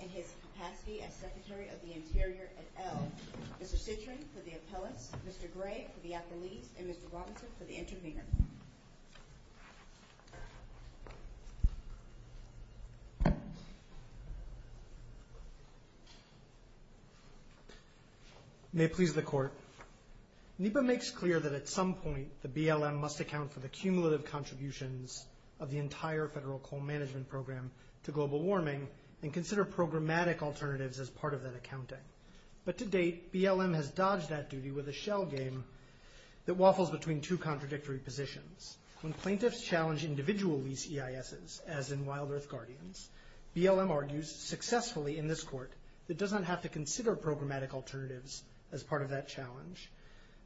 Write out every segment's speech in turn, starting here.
and his capacity as Secretary of the Interior at Ell. Mr. Citrin for the appellants, Mr. Gray for the appellees, and Mr. Robinson for the intervener. May it please the court. NEPA makes clear that at some point the BLM must account for the cumulative contributions of the entire federal coal management program to global warming and consider programmatic alternatives as part of that accounting. But to date, BLM has dodged that duty with a shell game that waffles between two contradictory positions. When plaintiffs challenge individual lease EISs, as in Wild Earth Guardians, BLM argues successfully in this court that it does not have to consider programmatic alternatives as part of that challenge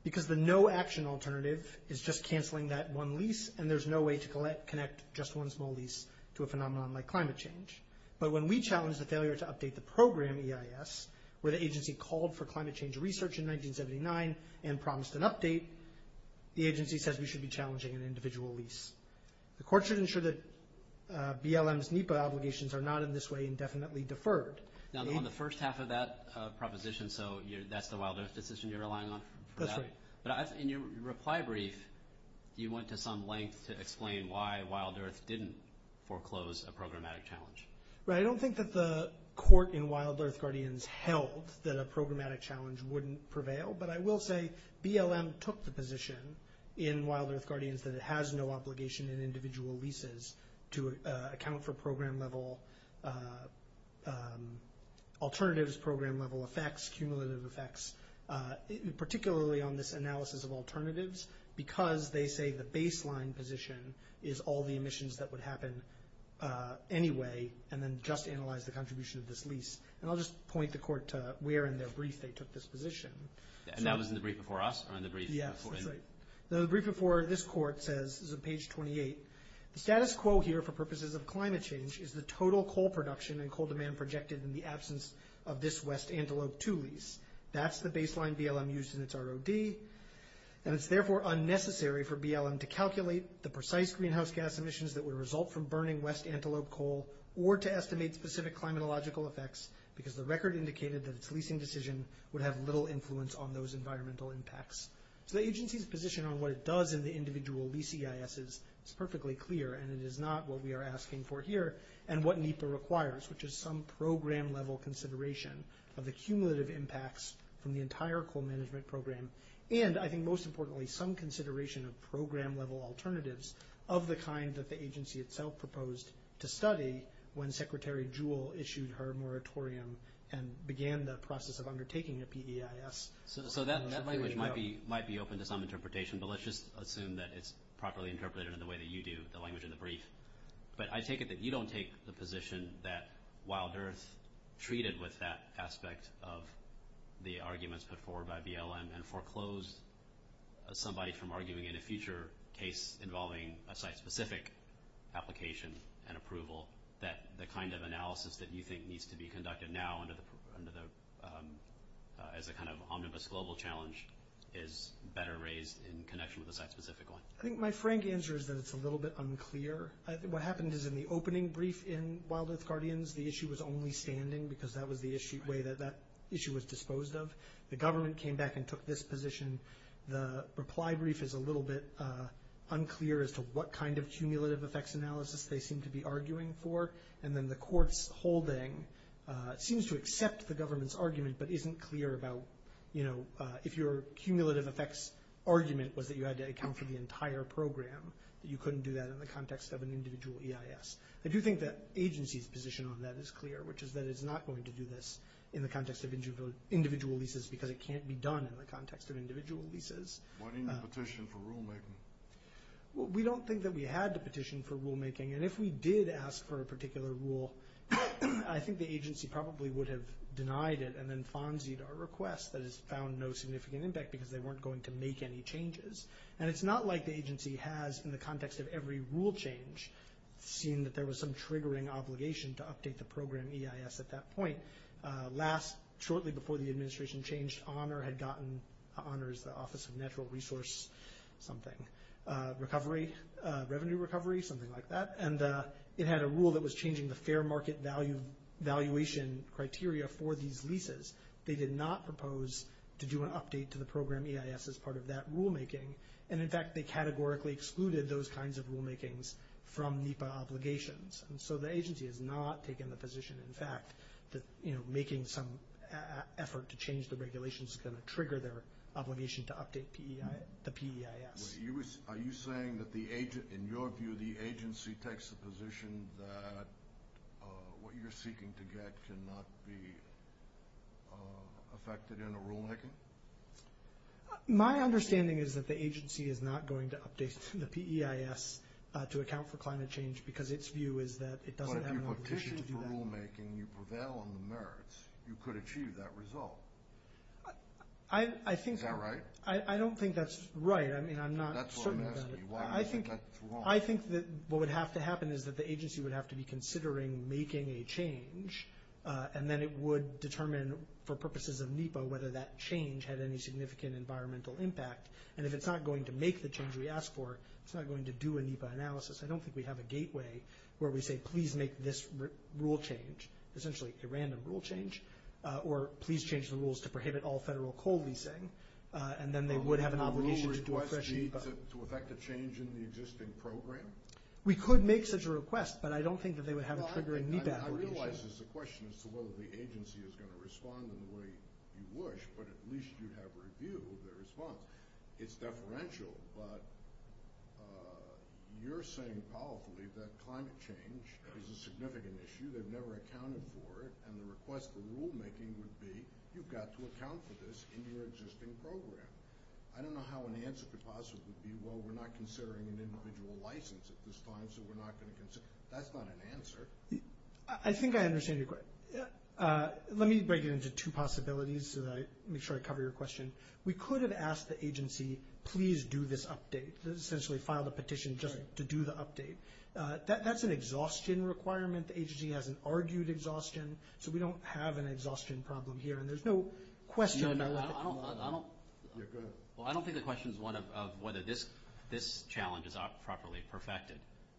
because the no action alternative is just canceling that one lease and there's no way to connect just one small lease to a phenomenon like climate change. But when we challenge the failure to update the program EIS, where the agency called for climate change research in 1979 and promised an update, the agency says we should be challenging an individual lease. The court should ensure that BLM's NEPA obligations are not in this way indefinitely deferred. Now on the first half of that proposition, so that's the Wild Earth decision you're relying on? That's right. But in your reply brief, you went to some length to explain why Wild Earth didn't foreclose a programmatic challenge. Right, I don't think that the court in Wild Earth Guardians held that a programmatic challenge wouldn't prevail, but I will say BLM took the position in Wild Earth Guardians that it has no obligation in individual leases to account for program level alternatives, program level effects, cumulative effects, particularly on this analysis of alternatives because they say the baseline position is all the emissions that would happen anyway and then just analyze the contribution of this lease. And I'll just point the court to where in their brief they took this position. And that was in the brief before us? Yes, that's right. The brief before this court says, this is on page 28, the status quo here for purposes of climate change is the total coal production and coal demand projected in the absence of this West Antelope II lease. That's the baseline BLM used in its ROD. And it's therefore unnecessary for BLM to calculate the precise greenhouse gas emissions that would result from burning West Antelope coal or to estimate specific climatological effects because the record indicated that its leasing decision would have little influence on those environmental impacts. So the agency's position on what it does in the individual lease EISs is perfectly clear and it is not what we are asking for here and what NEPA requires, which is some program level consideration of the cumulative impacts from the entire coal management program and I think most importantly some consideration of program level alternatives of the kind that the agency itself proposed to study when Secretary Jewell issued her moratorium and began the process of undertaking a PEIS. So that language might be open to some interpretation, but let's just assume that it's properly interpreted in the way that you do, the language in the brief. But I take it that you don't take the position that Wild Earth treated with that aspect of the arguments put forward by BLM and foreclosed somebody from arguing in a future case involving a site-specific application and approval that the kind of analysis that you think needs to be conducted now under the, as a kind of omnibus global challenge is better raised in connection with a site-specific one. I think my frank answer is that it's a little bit unclear. What happened is in the opening brief in Wild Earth Guardians the issue was only standing because that was the way that issue was disposed of. The government came back and took this position. The reply brief is a little bit unclear as to what kind of cumulative effects analysis they seem to be arguing for and then the court's holding seems to accept the government's argument but isn't clear about, you know, if your cumulative effects argument was that you had to account for the entire program, that you couldn't do that in the context of an individual EIS. I do think that agency's position on that is clear, which is that it's not going to do this in the context of individual leases because it can't be done in the context of individual leases. Why didn't you petition for rulemaking? We don't think that we had to petition for rulemaking and if we did ask for a particular rule, I think the agency probably would have denied it and then fonzied our request that has found no significant impact because they weren't going to make any changes. And it's not like the agency has, in the context of every rule change, seen that there was some triggering obligation to update the program EIS at that point. Last, shortly before the administration changed, Honor had gotten, Honor is the Office of Natural Resource something, recovery, revenue recovery, something like that, and it had a rule that was changing the fair market valuation criteria for these leases. They did not propose to do an update to the program EIS as part of that rulemaking, and in fact they categorically excluded those kinds of rulemakings from NEPA obligations. And so the agency has not taken the position, in fact, that making some effort to change the regulations is going to trigger their obligation to update the PEIS. Are you saying that, in your view, the agency takes the position that what you're seeking to get cannot be affected in a rulemaking? My understanding is that the agency is not going to update the PEIS to account for climate change because its view is that it doesn't have an obligation to do that. But if you petitioned for rulemaking, you prevail on the merits, you could achieve that result. Is that right? I don't think that's right. I mean, I'm not certain about it. That's what I'm asking. Why do you think that's wrong? I think that what would have to happen is that the agency would have to be considering making a change, and then it would determine for purposes of NEPA whether that change had any significant environmental impact. And if it's not going to make the change we asked for, it's not going to do a NEPA analysis. I don't think we have a gateway where we say, please make this rule change, essentially a random rule change, or please change the rules to prohibit all federal coal leasing, and then they would have an obligation to do a fresh NEPA. Would a rule request need to affect a change in the existing program? We could make such a request, but I don't think that they would have a triggering NEPA obligation. I realize this is a question as to whether the agency is going to respond in the way you wish, but at least you'd have a review of their response. It's deferential, but you're saying powerfully that climate change is a significant issue. They've never accounted for it, and the request for rulemaking would be, you've got to account for this in your existing program. I don't know how an answer could possibly be, well, we're not considering an individual license at this time, so we're not going to consider it. That's not an answer. I think I understand your question. Let me break it into two possibilities so that I make sure I cover your question. We could have asked the agency, please do this update, essentially file the petition just to do the update. That's an exhaustion requirement. The agency hasn't argued exhaustion, so we don't have an exhaustion problem here, and there's no question about letting them do that. I don't think the question is one of whether this challenge is properly perfected.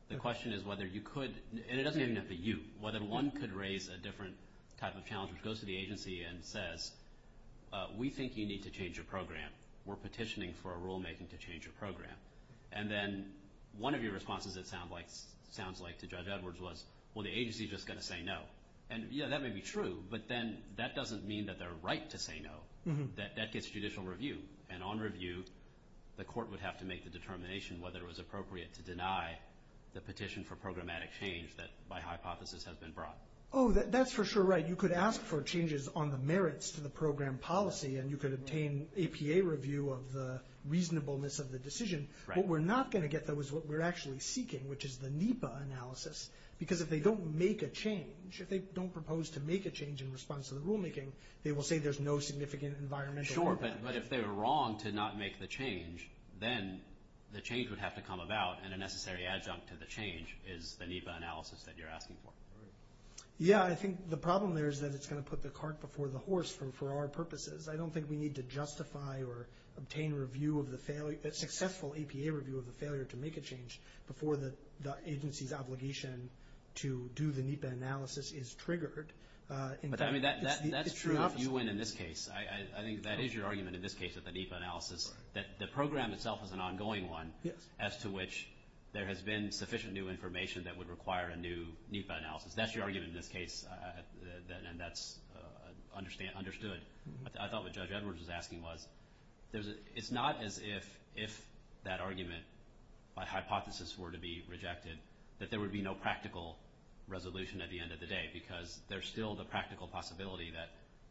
The question is whether you could, and it doesn't even have to be you, whether one could raise a different type of challenge, goes to the agency and says, we think you need to change your program. We're petitioning for a rulemaking to change your program. And then one of your responses, it sounds like, to Judge Edwards was, well, the agency's just going to say no. And, yeah, that may be true, but then that doesn't mean that they're right to say no. That gets judicial review, and on review, the court would have to make the determination whether it was appropriate to deny the petition for programmatic change that, by hypothesis, has been brought. Oh, that's for sure right. You could ask for changes on the merits to the program policy, and you could obtain APA review of the reasonableness of the decision. What we're not going to get, though, is what we're actually seeking, which is the NEPA analysis. Because if they don't make a change, if they don't propose to make a change in response to the rulemaking, they will say there's no significant environmental impact. Sure, but if they were wrong to not make the change, then the change would have to come about, and a necessary adjunct to the change is the NEPA analysis that you're asking for. Yeah, I think the problem there is that it's going to put the cart before the horse for our purposes. I don't think we need to justify or obtain successful APA review of the failure to make a change before the agency's obligation to do the NEPA analysis is triggered. But that's true if you win in this case. I think that is your argument in this case with the NEPA analysis, that the program itself is an ongoing one, as to which there has been sufficient new information that would require a new NEPA analysis. That's your argument in this case, and that's understood. I thought what Judge Edwards was asking was, it's not as if that argument by hypothesis were to be rejected, that there would be no practical resolution at the end of the day, because there's still the practical possibility that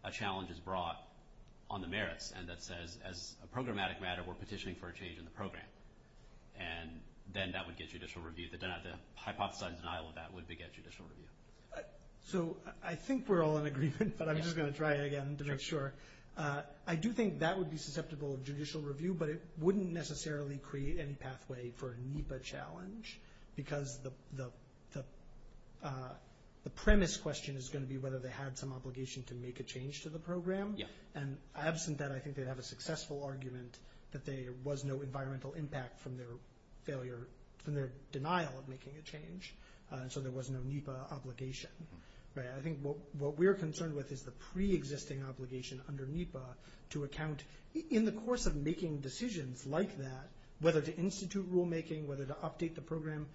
a challenge is brought on the merits, and that says, as a programmatic matter, we're petitioning for a change in the program. And then that would get judicial review. The hypothesized denial of that would beget judicial review. So I think we're all in agreement, but I'm just going to try again to make sure. I do think that would be susceptible of judicial review, but it wouldn't necessarily create any pathway for a NEPA challenge, because the premise question is going to be whether they had some obligation to make a change to the program. And absent that, I think they'd have a successful argument that there was no environmental impact from their failure, from their denial of making a change, and so there was no NEPA obligation. I think what we're concerned with is the preexisting obligation under NEPA to account, in the course of making decisions like that, whether to institute rulemaking, whether to update the program.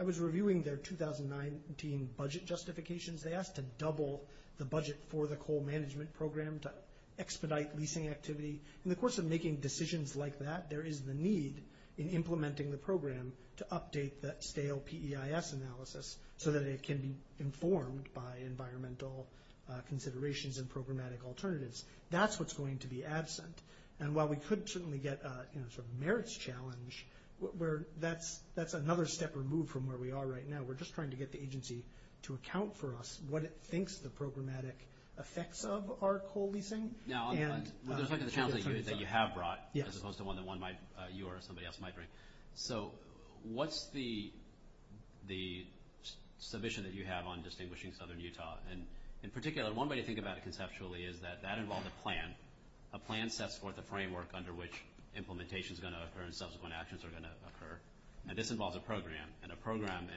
I was reviewing their 2019 budget justifications. They asked to double the budget for the coal management program to expedite leasing activity. In the course of making decisions like that, there is the need in implementing the program to update that stale PEIS analysis so that it can be informed by environmental considerations and programmatic alternatives. That's what's going to be absent. And while we could certainly get a sort of merits challenge, that's another step removed from where we are right now. We're just trying to get the agency to account for us, what it thinks the programmatic effects of our coal leasing. Now, with respect to the challenge that you have brought, as opposed to one that you or somebody else might bring, so what's the submission that you have on distinguishing southern Utah? And in particular, one way to think about it conceptually is that that involved a plan. A plan sets forth a framework under which implementation is going to occur and subsequent actions are going to occur. Now, this involves a program, and a program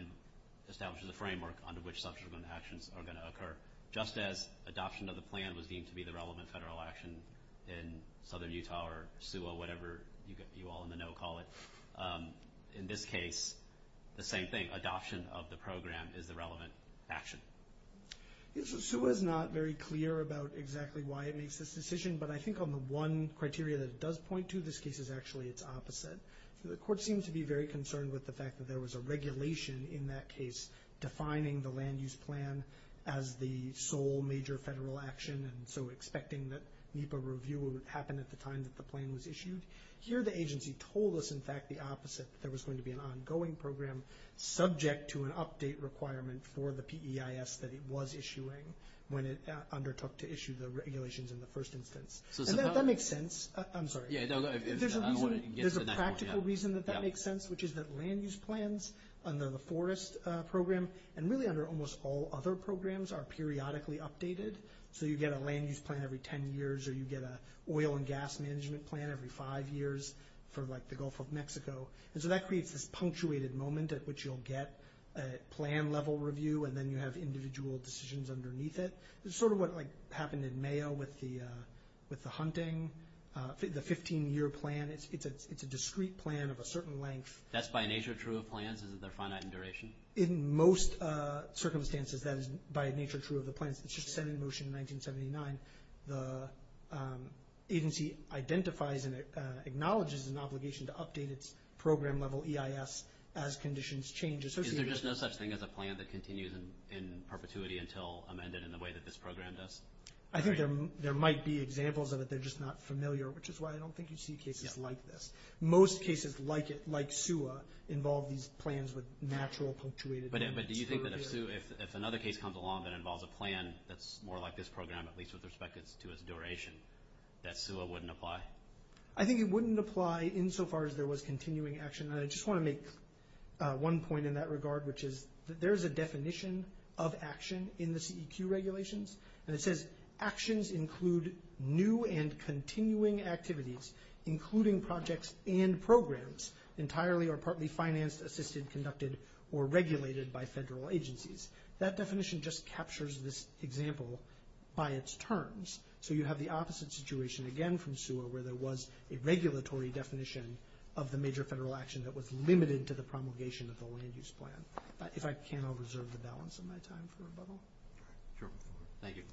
establishes a framework under which subsequent actions are going to occur. Just as adoption of the plan was deemed to be the relevant federal action in southern Utah or SUA, whatever you all in the know call it, in this case, the same thing. Adoption of the program is the relevant action. SUA is not very clear about exactly why it makes this decision, but I think on the one criteria that it does point to, this case is actually its opposite. The court seems to be very concerned with the fact that there was a regulation in that case defining the land use plan as the sole major federal action and so expecting that NEPA review would happen at the time that the plan was issued. Here, the agency told us, in fact, the opposite, that there was going to be an ongoing program subject to an update requirement for the PEIS that it was issuing when it undertook to issue the regulations in the first instance. And that makes sense. I'm sorry. There's a practical reason that that makes sense, which is that land use plans under the forest program and really under almost all other programs are periodically updated. So you get a land use plan every 10 years or you get an oil and gas management plan every five years for like the Gulf of Mexico. And so that creates this punctuated moment at which you'll get a plan level review and then you have individual decisions underneath it. It's sort of what happened in Mayo with the hunting, the 15-year plan. It's a discrete plan of a certain length. That's by nature true of plans? Is it finite in duration? In most circumstances, that is by nature true of the plans. It's just set in motion in 1979. The agency identifies and acknowledges an obligation to update its program level EIS as conditions change. Is there just no such thing as a plan that continues in perpetuity until amended in the way that this program does? I think there might be examples of it. They're just not familiar, which is why I don't think you see cases like this. Most cases like SUA involve these plans with natural punctuated moments. But do you think that if another case comes along that involves a plan that's more like this program, at least with respect to its duration, that SUA wouldn't apply? I think it wouldn't apply insofar as there was continuing action. I just want to make one point in that regard, which is that there is a definition of action in the CEQ regulations, and it says actions include new and continuing activities, including projects and programs, entirely or partly financed, assisted, conducted, or regulated by federal agencies. That definition just captures this example by its terms. So you have the opposite situation again from SUA where there was a regulatory definition of the major federal action that was limited to the promulgation of the land use plan. If I can, I'll reserve the balance of my time for rebuttal. Sure. Thank you.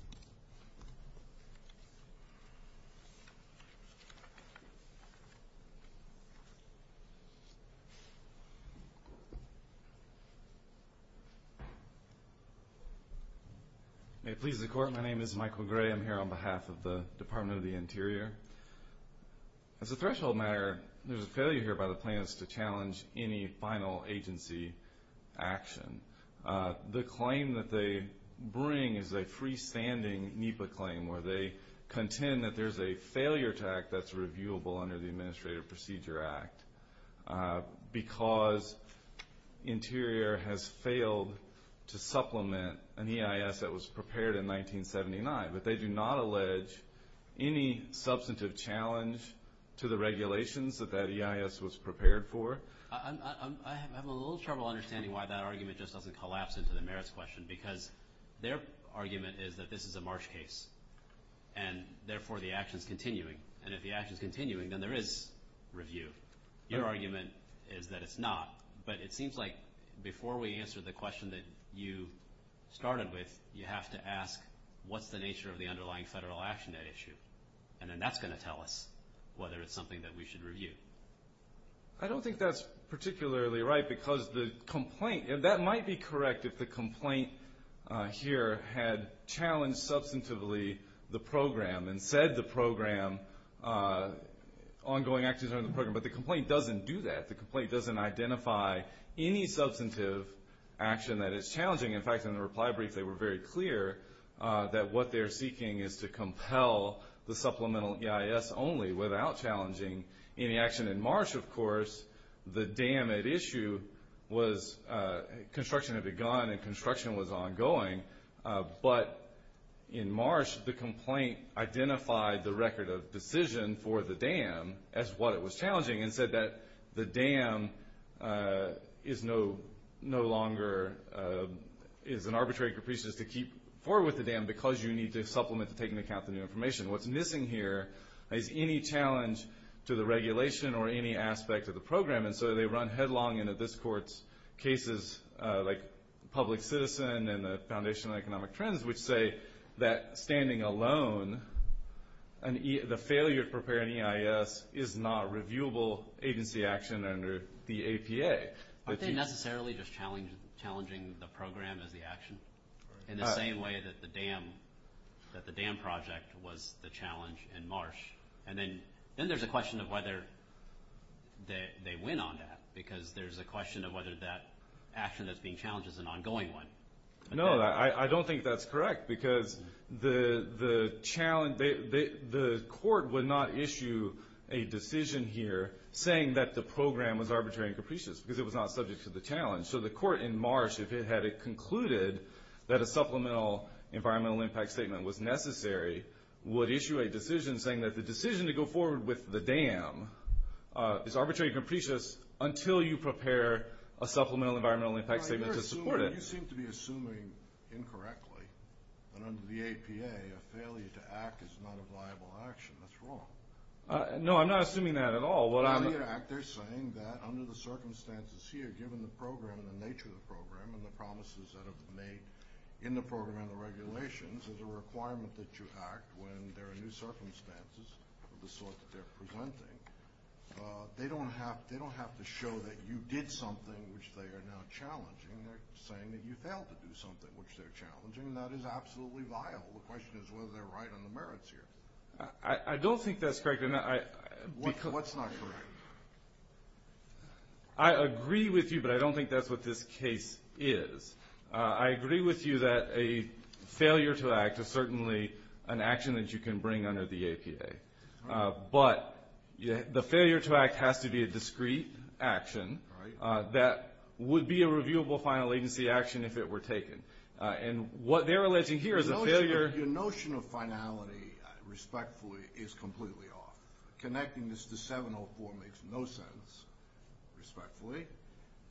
May it please the Court, my name is Michael Gray. I'm here on behalf of the Department of the Interior. As a threshold matter, there's a failure here by the plaintiffs to challenge any final agency action. The claim that they bring is a freestanding NEPA claim, where they contend that there's a failure to act that's reviewable under the Administrative Procedure Act because Interior has failed to supplement an EIS that was prepared in 1979. But they do not allege any substantive challenge to the regulations that that EIS was prepared for. I'm having a little trouble understanding why that argument just doesn't collapse into the merits question because their argument is that this is a Marsh case, and therefore the action's continuing. And if the action's continuing, then there is review. Your argument is that it's not. But it seems like before we answer the question that you started with, you have to ask what's the nature of the underlying federal action at issue. And then that's going to tell us whether it's something that we should review. I don't think that's particularly right because the complaint, that might be correct if the complaint here had challenged substantively the program and said the ongoing actions are in the program. But the complaint doesn't do that. The complaint doesn't identify any substantive action that is challenging. In fact, in the reply brief, they were very clear that what they're seeking is to compel the supplemental EIS only without challenging any action. In Marsh, of course, the dam at issue was construction had begun and construction was ongoing. But in Marsh, the complaint identified the record of decision for the dam as what it was challenging and said that the dam is no longer an arbitrary capricious to keep forward with the dam because you need to supplement to take into account the new information. What's missing here is any challenge to the regulation or any aspect of the program. And so they run headlong into this court's cases like public citizen and the foundation of economic trends which say that standing alone, the failure to prepare an EIS is not reviewable agency action under the APA. Aren't they necessarily just challenging the program as the action in the same way that the dam project was the challenge in Marsh? And then there's a question of whether they win on that because there's a question of whether that action that's being challenged is an ongoing one. No, I don't think that's correct because the court would not issue a decision here saying that the program was arbitrary and capricious because it was not subject to the challenge. So the court in Marsh, if it had concluded that a supplemental environmental impact statement was necessary, would issue a decision saying that the decision to go forward with the dam is arbitrary and capricious until you prepare a supplemental environmental impact statement to support it. You seem to be assuming incorrectly that under the APA a failure to act is not a viable action. That's wrong. No, I'm not assuming that at all. Under the circumstances here, given the program and the nature of the program and the promises that have been made in the program and the regulations, there's a requirement that you act when there are new circumstances of the sort that they're presenting. They don't have to show that you did something which they are now challenging. They're saying that you failed to do something which they're challenging, and that is absolutely vile. The question is whether they're right on the merits here. I don't think that's correct. What's not correct? I agree with you, but I don't think that's what this case is. I agree with you that a failure to act is certainly an action that you can bring under the APA. But the failure to act has to be a discrete action that would be a reviewable final agency action if it were taken. And what they're alleging here is a failure. Your notion of finality, respectfully, is completely off. Connecting this to 704 makes no sense, respectfully.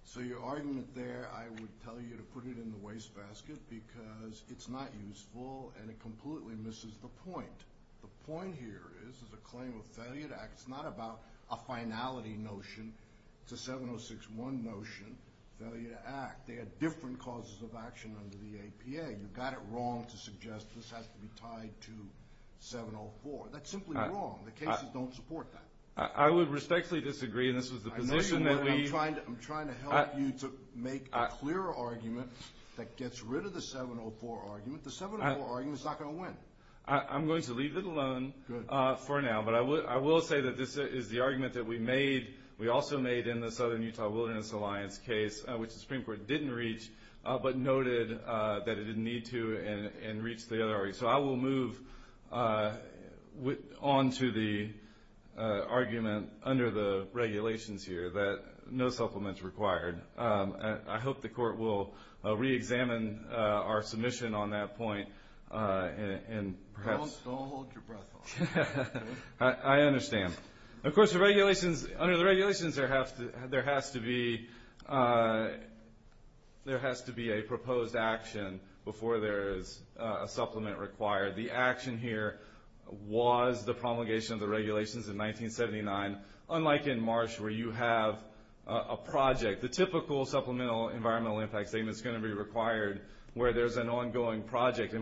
So your argument there, I would tell you to put it in the wastebasket because it's not useful, and it completely misses the point. The point here is it's a claim of failure to act. It's not about a finality notion. It's a 706-1 notion, failure to act. There are different causes of action under the APA. You've got it wrong to suggest this has to be tied to 704. That's simply wrong. The cases don't support that. I would respectfully disagree, and this is the position that we— I'm trying to help you to make a clearer argument that gets rid of the 704 argument. The 704 argument is not going to win. I'm going to leave it alone for now. But I will say that this is the argument that we also made in the Southern Utah Wilderness Alliance case, which the Supreme Court didn't reach but noted that it didn't need to and reached the other argument. So I will move on to the argument under the regulations here that no supplement is required. I hope the Court will reexamine our submission on that point and perhaps— Don't hold your breath. I understand. Of course, under the regulations, there has to be a proposed action before there is a supplement required. The action here was the promulgation of the regulations in 1979. Unlike in Marsh where you have a project, the typical supplemental environmental impact statement is going to be required where there's an ongoing project. The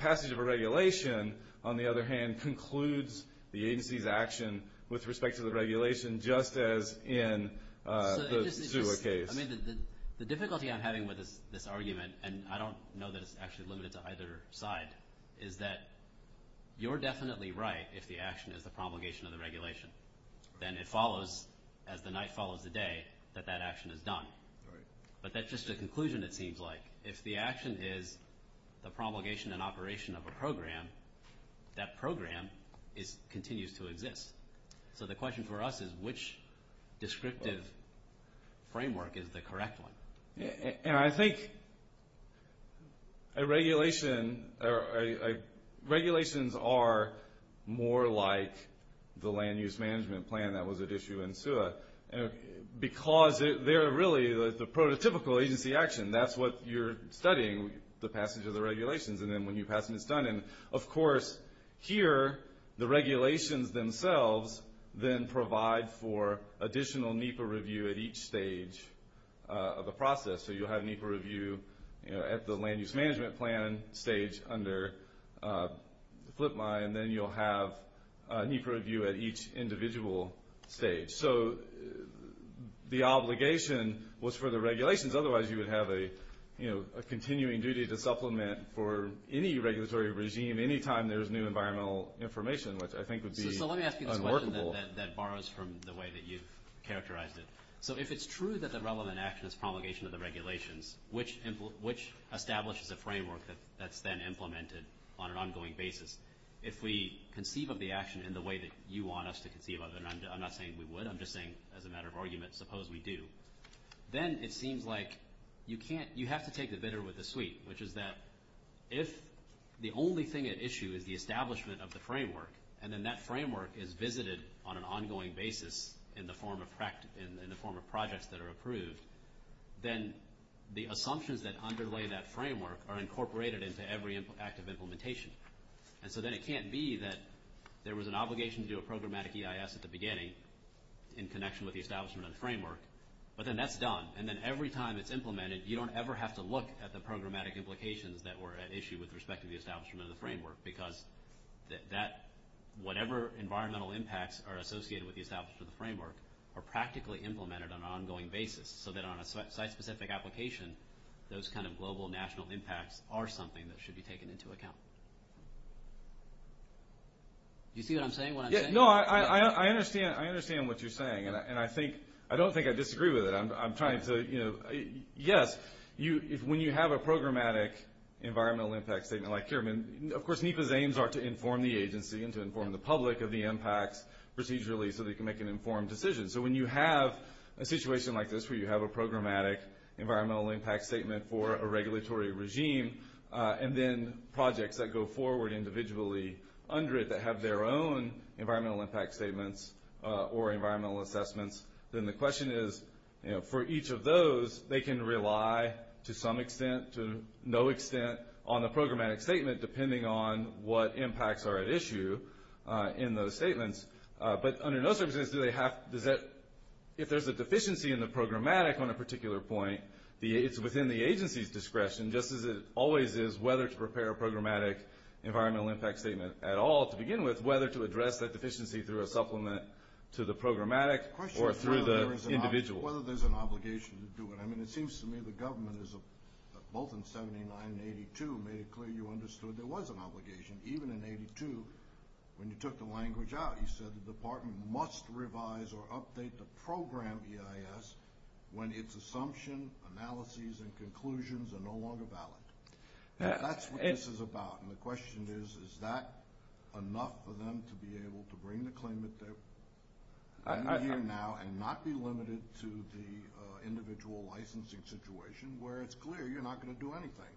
passage of a regulation, on the other hand, concludes the agency's action with respect to the regulation just as in the Sula case. The difficulty I'm having with this argument, and I don't know that it's actually limited to either side, is that you're definitely right if the action is the promulgation of the regulation. Then it follows, as the night follows the day, that that action is done. But that's just a conclusion, it seems like. If the action is the promulgation and operation of a program, that program continues to exist. So the question for us is, which descriptive framework is the correct one? I think regulations are more like the land use management plan that was at issue in Sula because they're really the prototypical agency action. That's what you're studying, the passage of the regulations. Then when you pass them, it's done. Of course, here the regulations themselves then provide for additional NEPA review at each stage of the process. So you'll have NEPA review at the land use management plan stage under the flip line. Then you'll have NEPA review at each individual stage. So the obligation was for the regulations. Otherwise, you would have a continuing duty to supplement for any regulatory regime any time there's new environmental information, which I think would be unworkable. So let me ask you this question that borrows from the way that you've characterized it. So if it's true that the relevant action is promulgation of the regulations, which establishes a framework that's then implemented on an ongoing basis, if we conceive of the action in the way that you want us to conceive of it, and I'm not saying we would, I'm just saying as a matter of argument, suppose we do, then it seems like you have to take the bitter with the sweet, which is that if the only thing at issue is the establishment of the framework and then that framework is visited on an ongoing basis in the form of projects that are approved, then the assumptions that underlay that framework are incorporated into every act of implementation. And so then it can't be that there was an obligation to do a programmatic EIS at the beginning in connection with the establishment of the framework, but then that's done. And then every time it's implemented, you don't ever have to look at the programmatic implications that were at issue with respect to the establishment of the framework, because whatever environmental impacts are associated with the establishment of the framework are practically implemented on an ongoing basis, so that on a site-specific application, those kind of global national impacts are something that should be taken into account. Do you see what I'm saying, what I'm saying? No, I understand what you're saying, and I don't think I disagree with it. I'm trying to, you know, yes, when you have a programmatic environmental impact statement like here, of course NEPA's aims are to inform the agency and to inform the public of the impacts procedurally so they can make an informed decision. So when you have a situation like this where you have a programmatic environmental impact statement for a regulatory regime and then projects that go forward individually under it that have their own environmental impact statements or environmental assessments, then the question is, you know, for each of those, they can rely to some extent, to no extent, on the programmatic statement depending on what impacts are at issue in those statements. But under those circumstances, if there's a deficiency in the programmatic on a particular point, it's within the agency's discretion, just as it always is, whether to prepare a programmatic environmental impact statement at all to begin with, whether to address that deficiency through a supplement to the programmatic or through the individual. The question is whether there's an obligation to do it. I mean, it seems to me the government, both in 79 and 82, made it clear you understood there was an obligation. Even in 82, when you took the language out, you said the department must revise or update the program EIS when its assumption, analyses, and conclusions are no longer valid. That's what this is about. And the question is, is that enough for them to be able to bring the claimant there? And not be limited to the individual licensing situation where it's clear you're not going to do anything.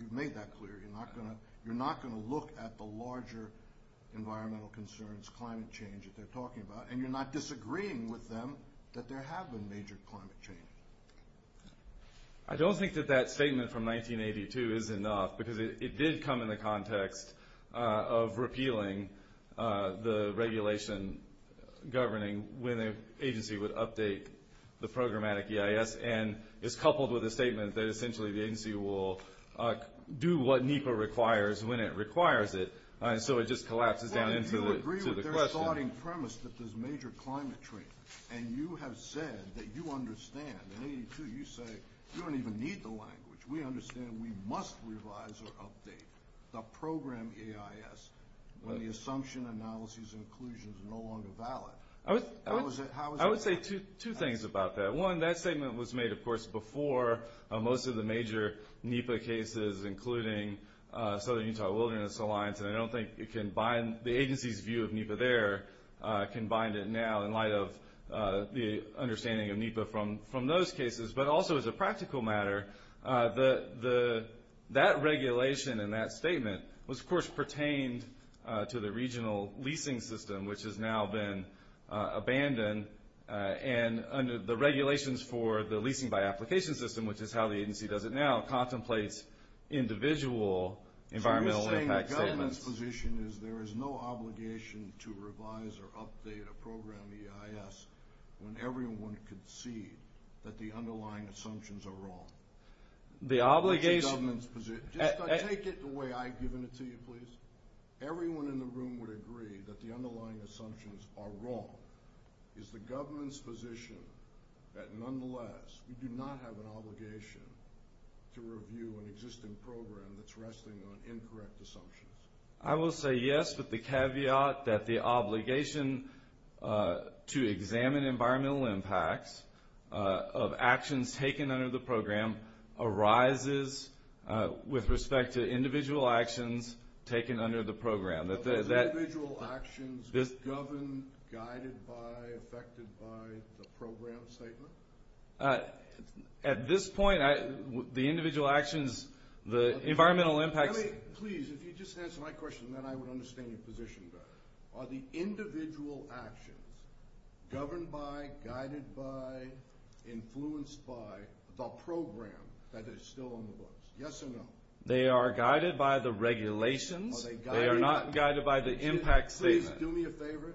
You've made that clear. You're not going to look at the larger environmental concerns, climate change that they're talking about, and you're not disagreeing with them that there have been major climate change. I don't think that that statement from 1982 is enough because it did come in the context of repealing the regulation governing when an agency would update the programmatic EIS and is coupled with a statement that essentially the agency will do what NEPA requires when it requires it. So it just collapses down into the question. Well, do you agree with their starting premise that there's major climate change? And you have said that you understand. In 82, you say you don't even need the language. We understand we must revise or update the program EIS when the assumption, analyses, and conclusions are no longer valid. How is that? I would say two things about that. One, that statement was made, of course, before most of the major NEPA cases, including Southern Utah Wilderness Alliance, and I don't think the agency's view of NEPA there can bind it now in light of the understanding of NEPA from those cases. But also as a practical matter, that regulation in that statement was, of course, pertained to the regional leasing system, which has now been abandoned. And the regulations for the leasing by application system, which is how the agency does it now, contemplates individual environmental impact statements. So you're saying the government's position is there is no obligation to revise or update a program EIS when everyone can see that the underlying assumptions are wrong? The obligation – That's the government's position. Take it the way I've given it to you, please. Everyone in the room would agree that the underlying assumptions are wrong. Is the government's position that, nonetheless, we do not have an obligation to review an existing program that's resting on incorrect assumptions? I will say yes with the caveat that the obligation to examine environmental impacts of actions taken under the program arises with respect to individual actions taken under the program. Individual actions governed, guided by, affected by the program statement? At this point, the individual actions, the environmental impacts – Let me – please, if you just answer my question, then I would understand your position better. Are the individual actions governed by, guided by, influenced by the program that is still on the books? Yes or no? They are guided by the regulations. Are they guided by – They are not guided by the impact statement. Please do me a favor,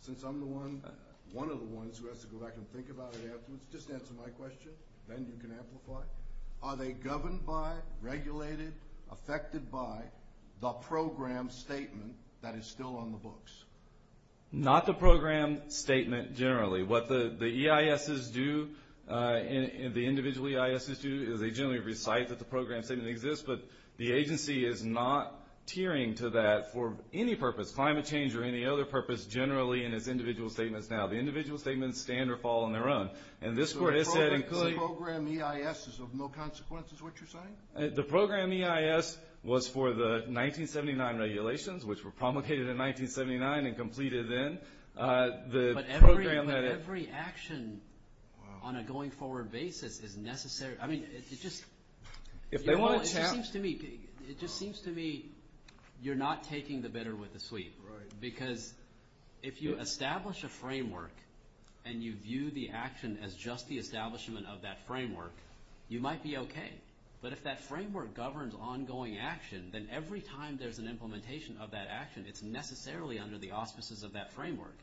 since I'm the one – one of the ones who has to go back and think about it afterwards. Just answer my question, then you can amplify. Are they governed by, regulated, affected by the program statement that is still on the books? Not the program statement generally. What the EISs do, the individual EISs do, is they generally recite that the program statement exists, but the agency is not tiering to that for any purpose, climate change or any other purpose, generally in its individual statements now. The individual statements stand or fall on their own. And this court has said – The program EIS is of no consequence is what you're saying? The program EIS was for the 1979 regulations, which were promulgated in 1979 and completed then. The program that – But every action on a going forward basis is necessary. I mean, it just – If they want to – It just seems to me you're not taking the bitter with the sweet. Right. Because if you establish a framework and you view the action as just the establishment of that framework, you might be okay. But if that framework governs ongoing action, then every time there's an implementation of that action, it's necessarily under the auspices of that framework.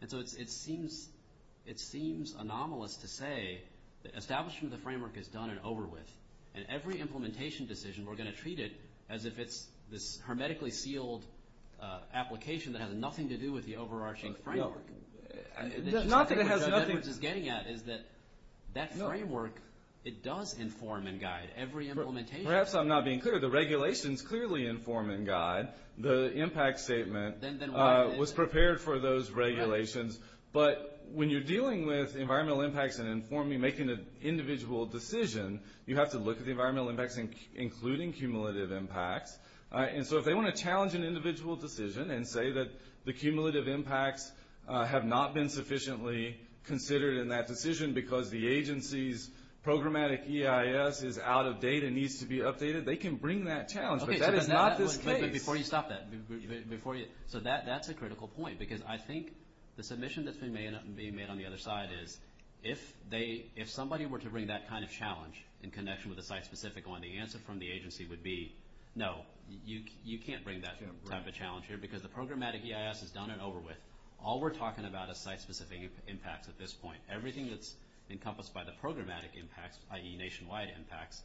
And so it seems anomalous to say that establishment of the framework is done and over with. And every implementation decision, we're going to treat it as if it's this hermetically sealed application that has nothing to do with the overarching framework. No. Nothing that has nothing – Which is getting at is that that framework, it does inform and guide every implementation. Perhaps I'm not being clear. The regulations clearly inform and guide. The impact statement was prepared for those regulations. But when you're dealing with environmental impacts and informing, making an individual decision, you have to look at the environmental impacts, including cumulative impacts. And so if they want to challenge an individual decision and say that the cumulative impacts have not been sufficiently considered in that decision because the agency's programmatic EIS is out of date and needs to be updated, they can bring that challenge. But that is not this case. But before you stop that, so that's a critical point. Because I think the submission that's being made on the other side is if somebody were to bring that kind of challenge in connection with a site-specific one, the answer from the agency would be no, you can't bring that type of challenge here because the programmatic EIS is done and over with. All we're talking about is site-specific impacts at this point. Everything that's encompassed by the programmatic impacts, i.e. nationwide impacts,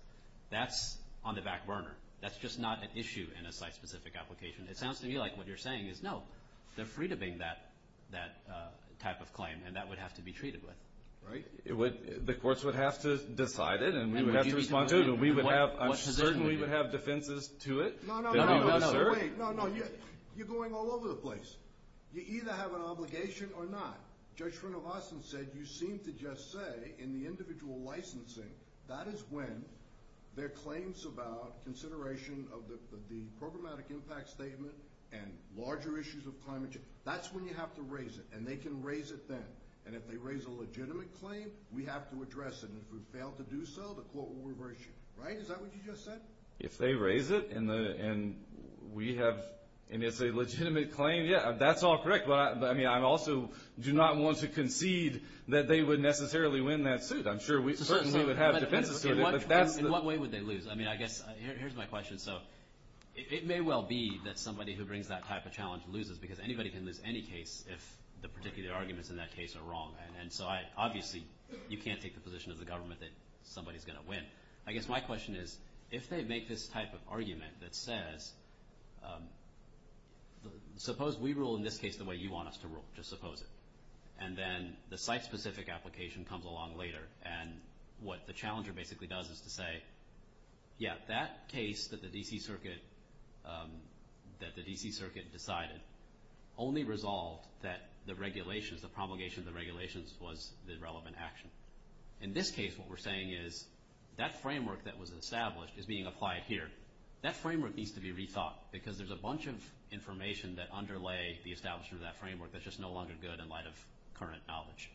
that's on the back burner. That's just not an issue in a site-specific application. It sounds to me like what you're saying is no, they're free to bring that type of claim, and that would have to be treated with. The courts would have to decide it and we would have to respond to it. We would have, I'm certain we would have defenses to it. No, no, no. You're going all over the place. You either have an obligation or not. Judge Srinivasan said you seem to just say in the individual licensing, that is when their claims about consideration of the programmatic impact statement and larger issues of climate change, that's when you have to raise it. And they can raise it then. And if they raise a legitimate claim, we have to address it. And if we fail to do so, the court will reverse you. Right? Is that what you just said? If they raise it and we have, and it's a legitimate claim, yeah, that's all correct. But, I mean, I also do not want to concede that they would necessarily win that suit. I'm sure we certainly would have defenses to it. In what way would they lose? I mean, I guess here's my question. So it may well be that somebody who brings that type of challenge loses because anybody can lose any case if the particular arguments in that case are wrong. And so, obviously, you can't take the position of the government that somebody's going to win. I guess my question is, if they make this type of argument that says, suppose we rule in this case the way you want us to rule. Just suppose it. And then the site-specific application comes along later. And what the challenger basically does is to say, yeah, that case that the D.C. Circuit decided only resolved that the regulations, the promulgation of the regulations was the relevant action. In this case, what we're saying is that framework that was established is being applied here. That framework needs to be rethought because there's a bunch of information that underlay the establishment of that framework that's just no longer good in light of current knowledge.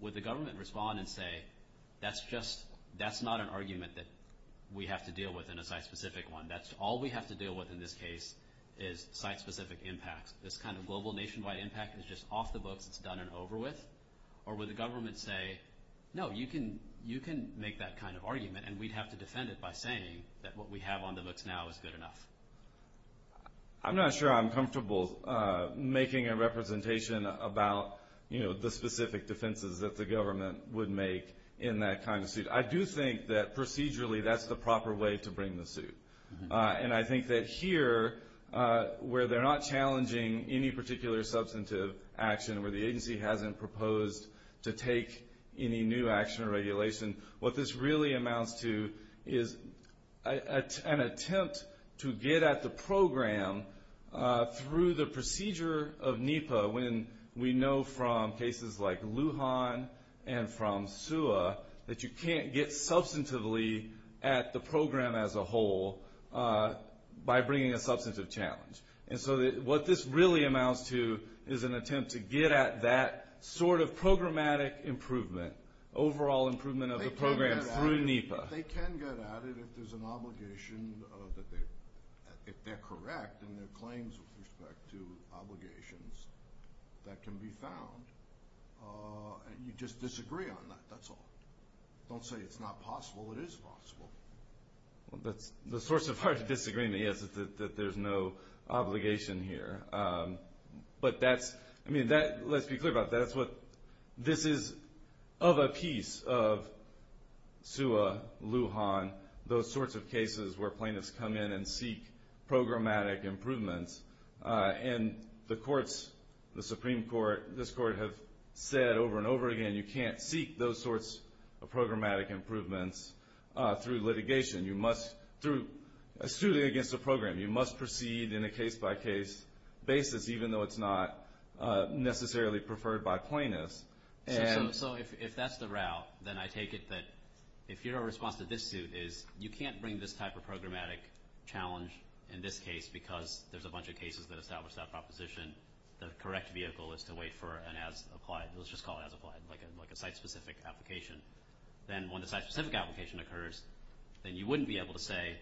Would the government respond and say, that's not an argument that we have to deal with in a site-specific one. That's all we have to deal with in this case is site-specific impacts. This kind of global nationwide impact is just off the books. It's done and over with. Or would the government say, no, you can make that kind of argument, and we'd have to defend it by saying that what we have on the books now is good enough. I'm not sure I'm comfortable making a representation about, you know, the specific defenses that the government would make in that kind of suit. I do think that procedurally that's the proper way to bring the suit. And I think that here, where they're not challenging any particular substantive action, where the agency hasn't proposed to take any new action or regulation, what this really amounts to is an attempt to get at the program through the procedure of NEPA, when we know from cases like Lujan and from SUA that you can't get substantively at the program as a whole by bringing a substantive challenge. And so what this really amounts to is an attempt to get at that sort of programmatic improvement, overall improvement of the program through NEPA. They can get at it if there's an obligation, if they're correct in their claims with respect to obligations, that can be found. You just disagree on that. That's all. Don't say it's not possible. It is possible. The source of our disagreement is that there's no obligation here. But that's, I mean, let's be clear about that. This is of a piece of SUA, Lujan, those sorts of cases where plaintiffs come in and seek programmatic improvements. And the courts, the Supreme Court, this Court, have said over and over again, you can't seek those sorts of programmatic improvements through litigation. It's truly against the program. You must proceed in a case-by-case basis, even though it's not necessarily preferred by plaintiffs. So if that's the route, then I take it that if your response to this suit is you can't bring this type of programmatic challenge in this case because there's a bunch of cases that establish that proposition, the correct vehicle is to wait for an as-applied, let's just call it as-applied, like a site-specific application. Then when the site-specific application occurs, then you wouldn't be able to say,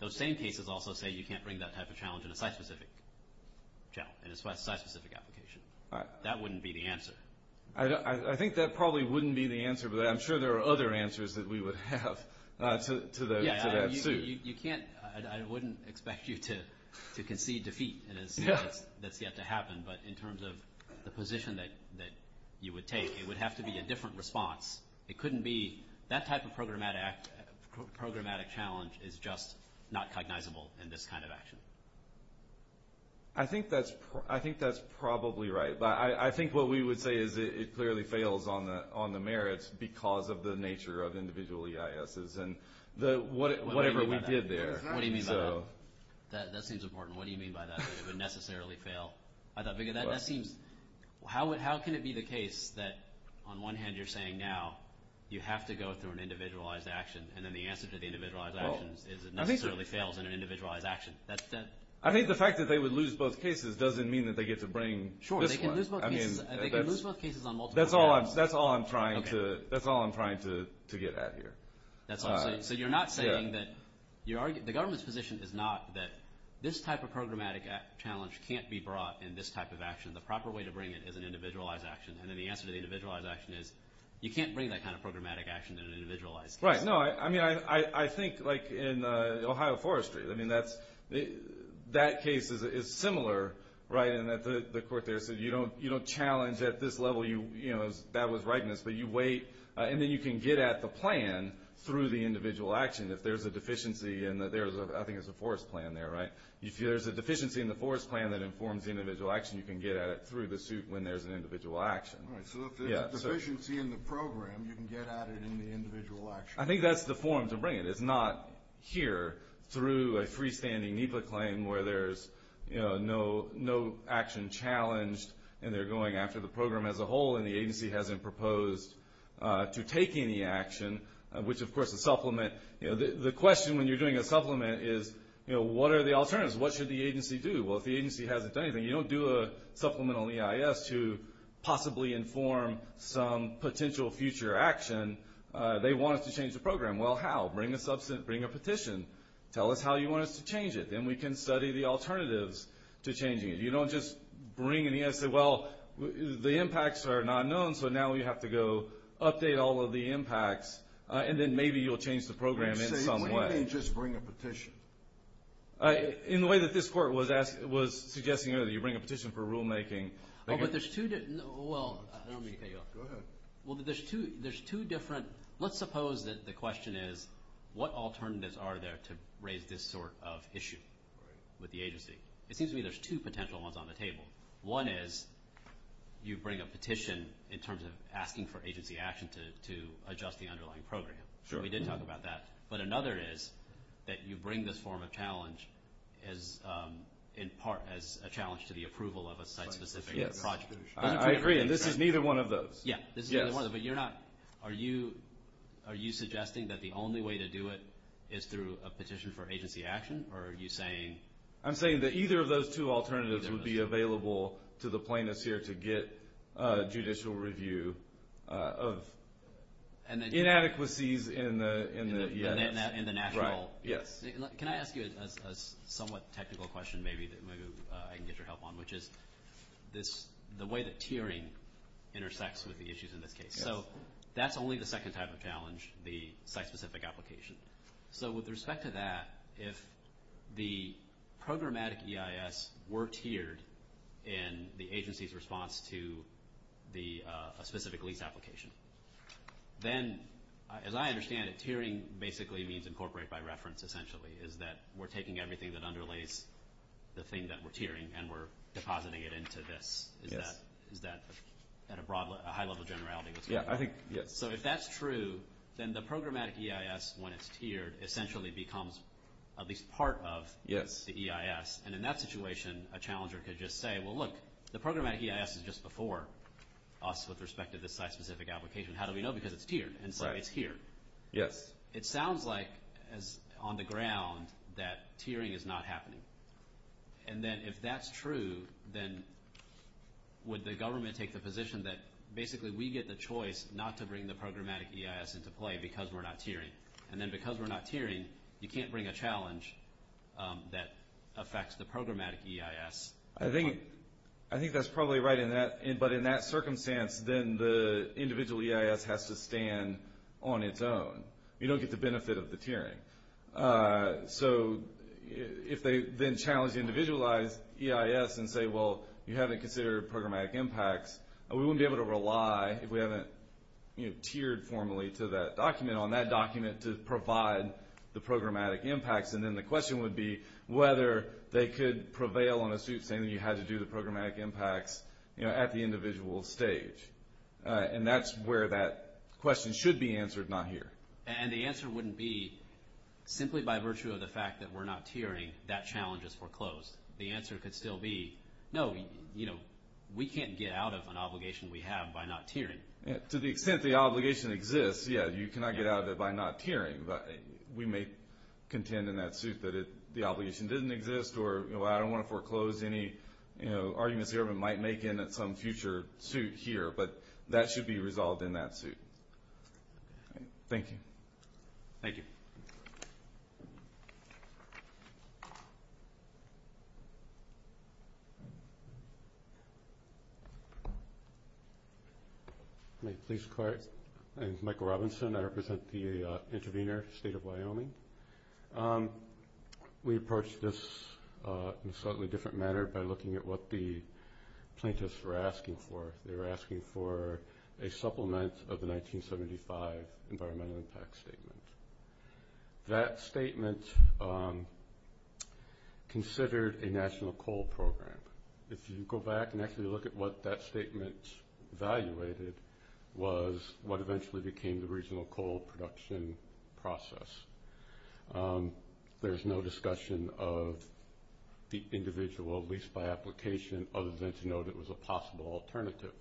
those same cases also say you can't bring that type of challenge in a site-specific application. That wouldn't be the answer. I think that probably wouldn't be the answer, but I'm sure there are other answers that we would have to that suit. Yeah, you can't, I wouldn't expect you to concede defeat. That's yet to happen. But in terms of the position that you would take, it would have to be a different response. It couldn't be that type of programmatic challenge is just not cognizable in this kind of action. I think that's probably right. I think what we would say is it clearly fails on the merits because of the nature of individual EISs and whatever we did there. What do you mean by that? That seems important. What do you mean by that, that it would necessarily fail? How can it be the case that, on one hand, you're saying now you have to go through an individualized action, and then the answer to the individualized action is it necessarily fails in an individualized action? I think the fact that they would lose both cases doesn't mean that they get to bring this one. Sure, they can lose both cases. That's all I'm trying to get at here. So you're not saying that the government's position is not that this type of programmatic challenge can't be brought in this type of action. The proper way to bring it is an individualized action. And then the answer to the individualized action is you can't bring that kind of programmatic action in an individualized case. Right. No, I mean, I think like in Ohio Forestry, I mean, that case is similar, right, in that the court there said you don't challenge at this level. That was rightness, but you wait, and then you can get at the plan through the individual action. If there's a deficiency in the – I think there's a forest plan there, right? If there's a deficiency in the forest plan that informs the individual action, you can get at it through the suit when there's an individual action. Right, so if there's a deficiency in the program, you can get at it in the individual action. I think that's the form to bring it. through a freestanding NEPA claim where there's, you know, no action challenged and they're going after the program as a whole and the agency hasn't proposed to take any action, which, of course, is supplement. The question when you're doing a supplement is, you know, what are the alternatives? What should the agency do? Well, if the agency hasn't done anything, you don't do a supplemental EIS to possibly inform some potential future action. They want us to change the program. Well, how? Bring a petition. Tell us how you want us to change it. Then we can study the alternatives to changing it. You don't just bring an EIS and say, well, the impacts are not known, so now we have to go update all of the impacts, and then maybe you'll change the program in some way. What do you mean just bring a petition? In the way that this court was suggesting earlier, you bring a petition for rulemaking. Oh, but there's two – well, I don't mean to cut you off. Go ahead. Well, there's two different – let's suppose that the question is, what alternatives are there to raise this sort of issue with the agency? It seems to me there's two potential ones on the table. One is you bring a petition in terms of asking for agency action to adjust the underlying program. We did talk about that. But another is that you bring this form of challenge in part as a challenge to the approval of a site-specific project. I agree, and this is neither one of those. Yeah, this is neither one of them. But you're not – are you suggesting that the only way to do it is through a petition for agency action, or are you saying – I'm saying that either of those two alternatives would be available to the plaintiffs here to get judicial review of inadequacies in the – In the national – Right, yes. Can I ask you a somewhat technical question maybe that maybe I can get your help on, which is the way that tiering intersects with the issues in this case. So that's only the second type of challenge, the site-specific application. So with respect to that, if the programmatic EIS were tiered in the agency's response to a specific lease application, then as I understand it, tiering basically means incorporate by reference essentially, is that we're taking everything that underlays the thing that we're tiering and we're depositing it into this. Is that at a high level generality? Yeah, I think – yes. So if that's true, then the programmatic EIS, when it's tiered, essentially becomes at least part of the EIS. And in that situation, a challenger could just say, well, look, the programmatic EIS is just before us with respect to this site-specific application. How do we know? Because it's tiered, and so it's here. Yes. So it sounds like on the ground that tiering is not happening. And then if that's true, then would the government take the position that basically we get the choice not to bring the programmatic EIS into play because we're not tiering? And then because we're not tiering, you can't bring a challenge that affects the programmatic EIS. I think that's probably right, but in that circumstance, then the individual EIS has to stand on its own. You don't get the benefit of the tiering. So if they then challenge the individualized EIS and say, well, you haven't considered programmatic impacts, we wouldn't be able to rely if we haven't tiered formally to that document on that document to provide the programmatic impacts. And then the question would be whether they could prevail on a suit saying you had to do the programmatic impacts at the individual stage. And that's where that question should be answered, not here. And the answer wouldn't be simply by virtue of the fact that we're not tiering, that challenge is foreclosed. The answer could still be, no, we can't get out of an obligation we have by not tiering. To the extent the obligation exists, yeah, you cannot get out of it by not tiering. We may contend in that suit that the obligation didn't exist, or I don't want to foreclose any arguments the government might make in some future suit here, but that should be resolved in that suit. Thank you. Thank you. Thank you. May it please the Court, my name is Michael Robinson. I represent the intervener, State of Wyoming. We approached this in a slightly different manner by looking at what the plaintiffs were asking for. They were asking for a supplement of the 1975 Environmental Impact Statement. That statement considered a national coal program. If you go back and actually look at what that statement evaluated, was what eventually became the regional coal production process. There's no discussion of the individual lease-buy application other than to note it was a possible alternative.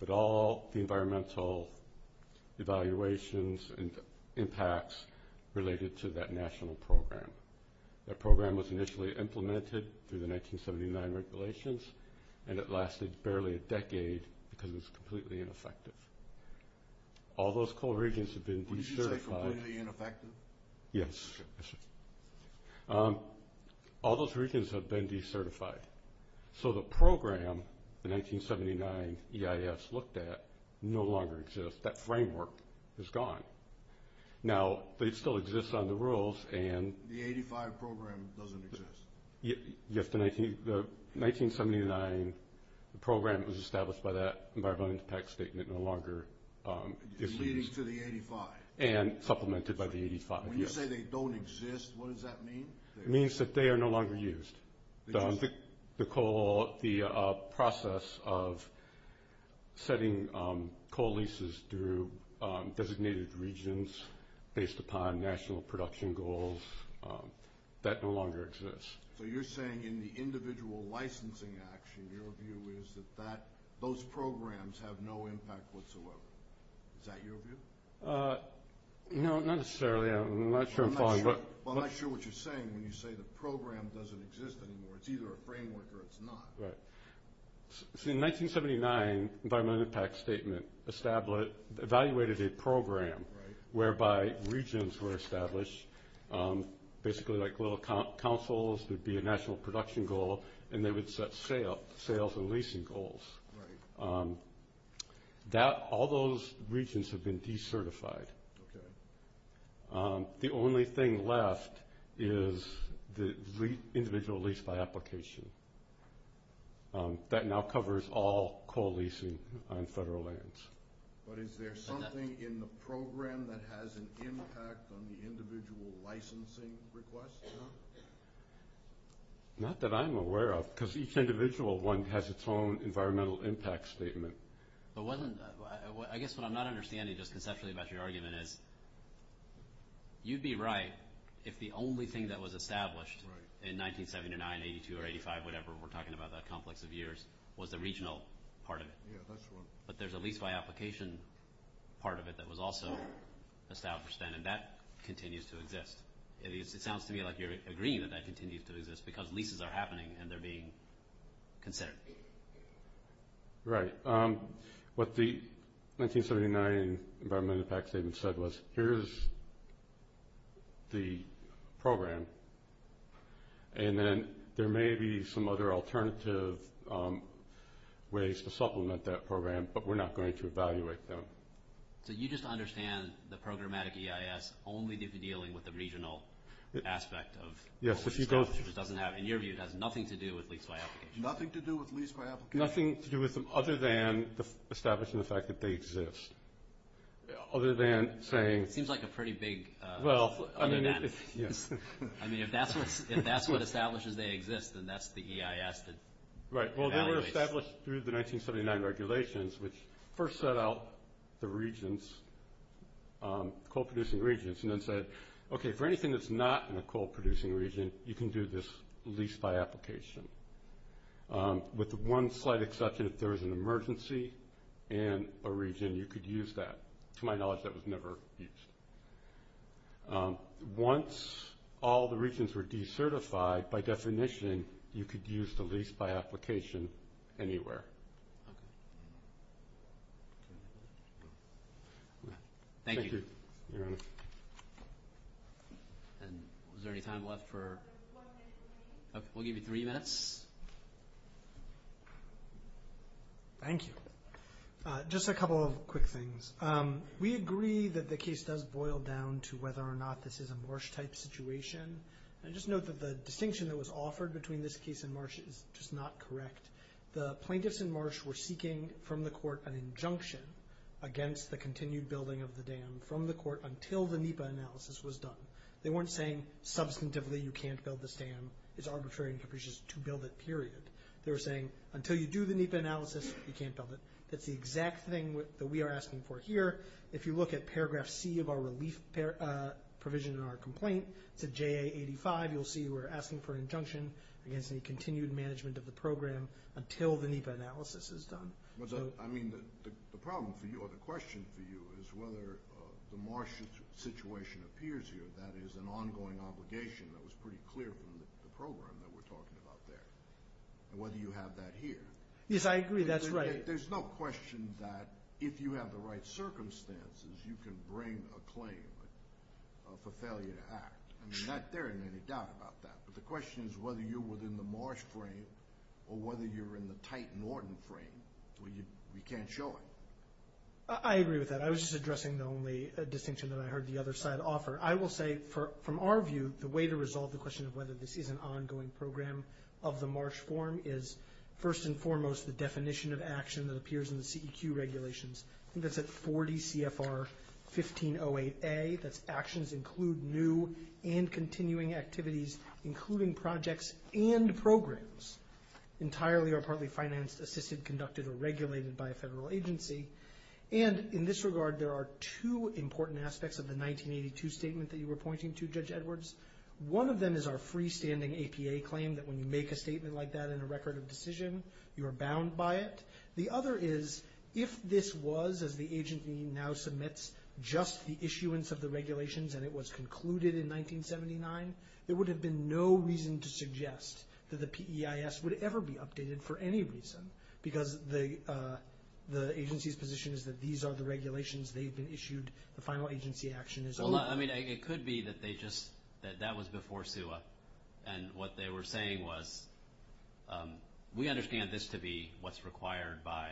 But all the environmental evaluations and impacts related to that national program. That program was initially implemented through the 1979 regulations, and it lasted barely a decade because it was completely ineffective. All those coal regions have been decertified. Would you say completely ineffective? Yes. All those regions have been decertified. So the program, the 1979 EIS looked at, no longer exists. That framework is gone. Now, they still exist on the rules. The 85 program doesn't exist. Yes, the 1979 program was established by that Environmental Impact Statement no longer. Leading to the 85. And supplemented by the 85, yes. When you say they don't exist, what does that mean? It means that they are no longer used. The process of setting coal leases through designated regions based upon national production goals, that no longer exists. So you're saying in the individual licensing action, your view is that those programs have no impact whatsoever. Is that your view? No, not necessarily. I'm not sure I'm following. I'm not sure what you're saying when you say the program doesn't exist anymore. It's either a framework or it's not. Right. See, in 1979, Environmental Impact Statement evaluated a program whereby regions were established, basically like little councils. There would be a national production goal, and they would set sales and leasing goals. Right. All those regions have been decertified. Okay. The only thing left is the individual lease by application. That now covers all coal leasing on federal lands. But is there something in the program that has an impact on the individual licensing request? Not that I'm aware of, because each individual one has its own Environmental Impact Statement. I guess what I'm not understanding just conceptually about your argument is you'd be right if the only thing that was established in 1979, 82, or 85, whatever we're talking about, that complex of years, was the regional part of it. Yeah, that's true. But there's a lease by application part of it that was also established then, and that continues to exist. It sounds to me like you're agreeing that that continues to exist because leases are happening and they're being considered. Right. What the 1979 Environmental Impact Statement said was, here's the program, and then there may be some other alternative ways to supplement that program, but we're not going to evaluate them. So you just understand the programmatic EIS only to be dealing with the regional aspect of what was established, which doesn't have, in your view, it has nothing to do with lease by application. Nothing to do with them other than establishing the fact that they exist. Other than saying- It seems like a pretty big other than. Yes. I mean, if that's what establishes they exist, then that's the EIS that evaluates. Right. Well, they were established through the 1979 regulations, which first set out the regions, coal-producing regions, and then said, okay, for anything that's not in a coal-producing region, you can do this lease by application. With the one slight exception, if there was an emergency in a region, you could use that. To my knowledge, that was never used. Once all the regions were decertified, by definition, you could use the lease by application anywhere. Okay. Thank you. Thank you, Your Honor. And is there any time left for- One minute. Okay. We'll give you three minutes. Thank you. Just a couple of quick things. We agree that the case does boil down to whether or not this is a Marsh-type situation. And just note that the distinction that was offered between this case and Marsh is just not correct. The plaintiffs in Marsh were seeking from the court an injunction against the continued building of the dam from the court until the NEPA analysis was done. They weren't saying, substantively, you can't build this dam. It's arbitrary and capricious to build it, period. They were saying, until you do the NEPA analysis, you can't build it. That's the exact thing that we are asking for here. If you look at paragraph C of our relief provision in our complaint, it's a JA85. You'll see we're asking for an injunction against any continued management of the program until the NEPA analysis is done. I mean, the problem for you or the question for you is whether the Marsh situation appears here, that is an ongoing obligation that was pretty clear from the program that we're talking about there, and whether you have that here. Yes, I agree. That's right. There's no question that if you have the right circumstances, you can bring a claim for failure to act. I mean, not that there is any doubt about that, but the question is whether you're within the Marsh frame or whether you're in the Titan-Ordon frame. We can't show it. I agree with that. I was just addressing the only distinction that I heard the other side offer. I will say, from our view, the way to resolve the question of whether this is an ongoing program of the Marsh form is, first and foremost, the definition of action that appears in the CEQ regulations. I think that's at 40 CFR 1508A. That's actions include new and continuing activities, including projects and programs, entirely or partly financed, assisted, conducted, or regulated by a federal agency. And in this regard, there are two important aspects of the 1982 statement that you were pointing to, Judge Edwards. One of them is our freestanding APA claim that when you make a statement like that in a record of decision, you are bound by it. The other is, if this was, as the agency now submits, just the issuance of the regulations and it was concluded in 1979, there would have been no reason to suggest that the PEIS would ever be updated for any reason, because the agency's position is that these are the regulations. They've been issued. The final agency action is over. Hold on. I mean, it could be that that was before SUA, and what they were saying was, we understand this to be what's required by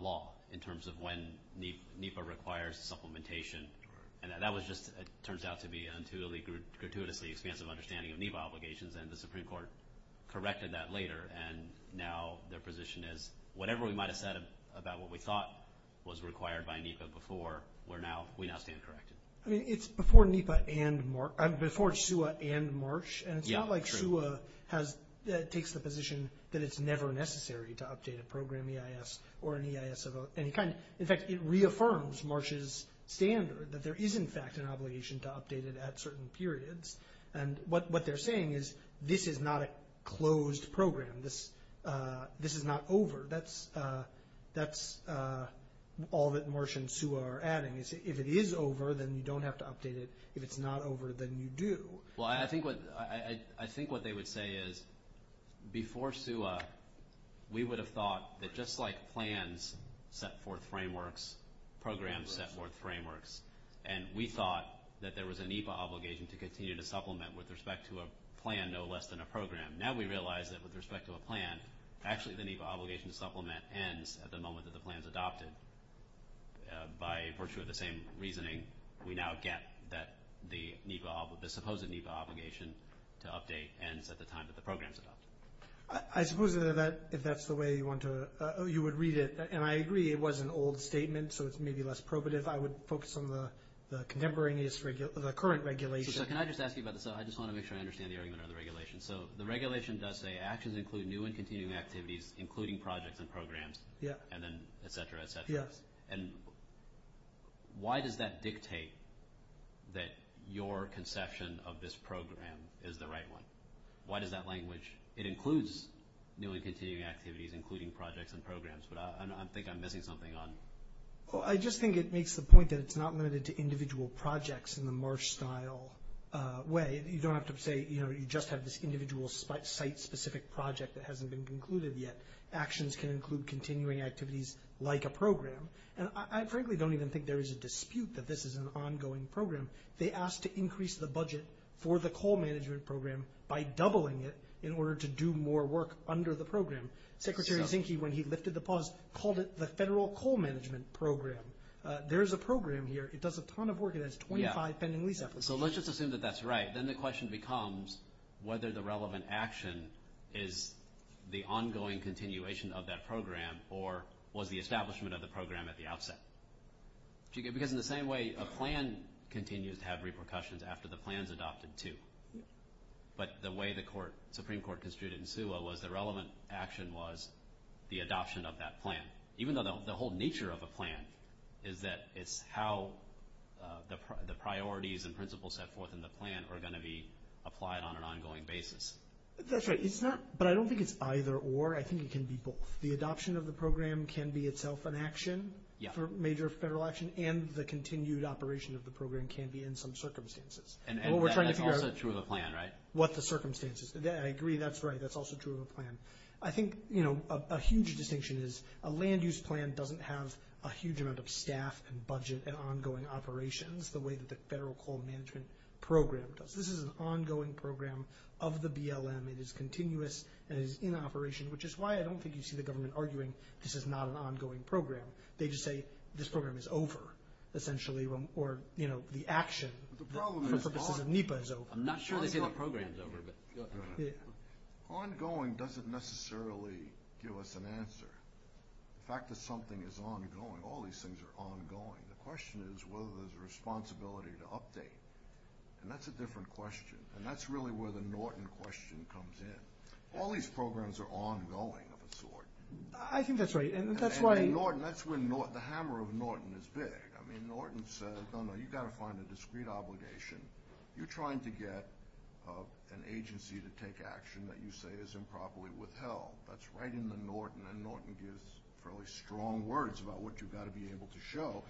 law in terms of when NEPA requires supplementation. And that was just, it turns out to be an intuitively, gratuitously expansive understanding of NEPA obligations, and the Supreme Court corrected that later, and now their position is, whatever we might have said about what we thought was required by NEPA before, we now stand corrected. I mean, it's before NEPA and, before SUA and Marsh, and it's not like SUA has, takes the position that it's never necessary to update a program EIS or an EIS of any kind. In fact, it reaffirms Marsh's standard that there is, in fact, an obligation to update it at certain periods. And what they're saying is, this is not a closed program. This is not over. That's all that Marsh and SUA are adding. If it is over, then you don't have to update it. If it's not over, then you do. Well, I think what they would say is, before SUA, we would have thought that just like plans set forth frameworks, programs set forth frameworks, and we thought that there was a NEPA obligation to continue to supplement with respect to a plan, no less than a program. Now we realize that with respect to a plan, actually the NEPA obligation to supplement ends at the moment that the plan is adopted. And by virtue of the same reasoning, we now get that the NEPA obligation, the supposed NEPA obligation to update ends at the time that the program is adopted. I suppose that if that's the way you want to, you would read it. And I agree it was an old statement, so it's maybe less probative. I would focus on the contemporaneous, the current regulation. So can I just ask you about this? I just want to make sure I understand the argument on the regulation. So the regulation does say actions include new and continuing activities, including projects and programs, and then et cetera, et cetera. And why does that dictate that your conception of this program is the right one? Why does that language, it includes new and continuing activities, including projects and programs, but I think I'm missing something on it. Well, I just think it makes the point that it's not limited to individual projects in the Marsh-style way. You don't have to say, you know, you just have this individual site-specific project that hasn't been concluded yet. Actions can include continuing activities like a program. And I frankly don't even think there is a dispute that this is an ongoing program. They asked to increase the budget for the coal management program by doubling it in order to do more work under the program. Secretary Zinke, when he lifted the pause, called it the Federal Coal Management Program. There is a program here. It does a ton of work. It has 25 pending lease applications. So let's just assume that that's right. Then the question becomes whether the relevant action is the ongoing continuation of that program or was the establishment of the program at the outset. Because in the same way, a plan continues to have repercussions after the plan is adopted, too. But the way the Supreme Court construed it in SUA was the relevant action was the adoption of that plan. Even though the whole nature of a plan is that it's how the priorities and principles set forth in the plan are going to be applied on an ongoing basis. That's right. But I don't think it's either or. I think it can be both. The adoption of the program can be itself an action for major federal action, and the continued operation of the program can be in some circumstances. And that's also true of a plan, right? What the circumstances. I agree. That's right. That's also true of a plan. I think a huge distinction is a land use plan doesn't have a huge amount of staff and budget and ongoing operations the way that the Federal Coal Management Program does. This is an ongoing program of the BLM. It is continuous and is in operation, which is why I don't think you see the government arguing this is not an ongoing program. They just say this program is over, essentially, or the action for purposes of NEPA is over. I'm not sure they say the program is over. Ongoing doesn't necessarily give us an answer. The fact that something is ongoing, all these things are ongoing. The question is whether there's a responsibility to update, and that's a different question. And that's really where the Norton question comes in. All these programs are ongoing of a sort. I think that's right. And that's when the hammer of Norton is big. I mean, Norton says, no, no, you've got to find a discrete obligation. You're trying to get an agency to take action that you say is improperly withheld. That's right in the Norton. And Norton gives fairly strong words about what you've got to be able to show.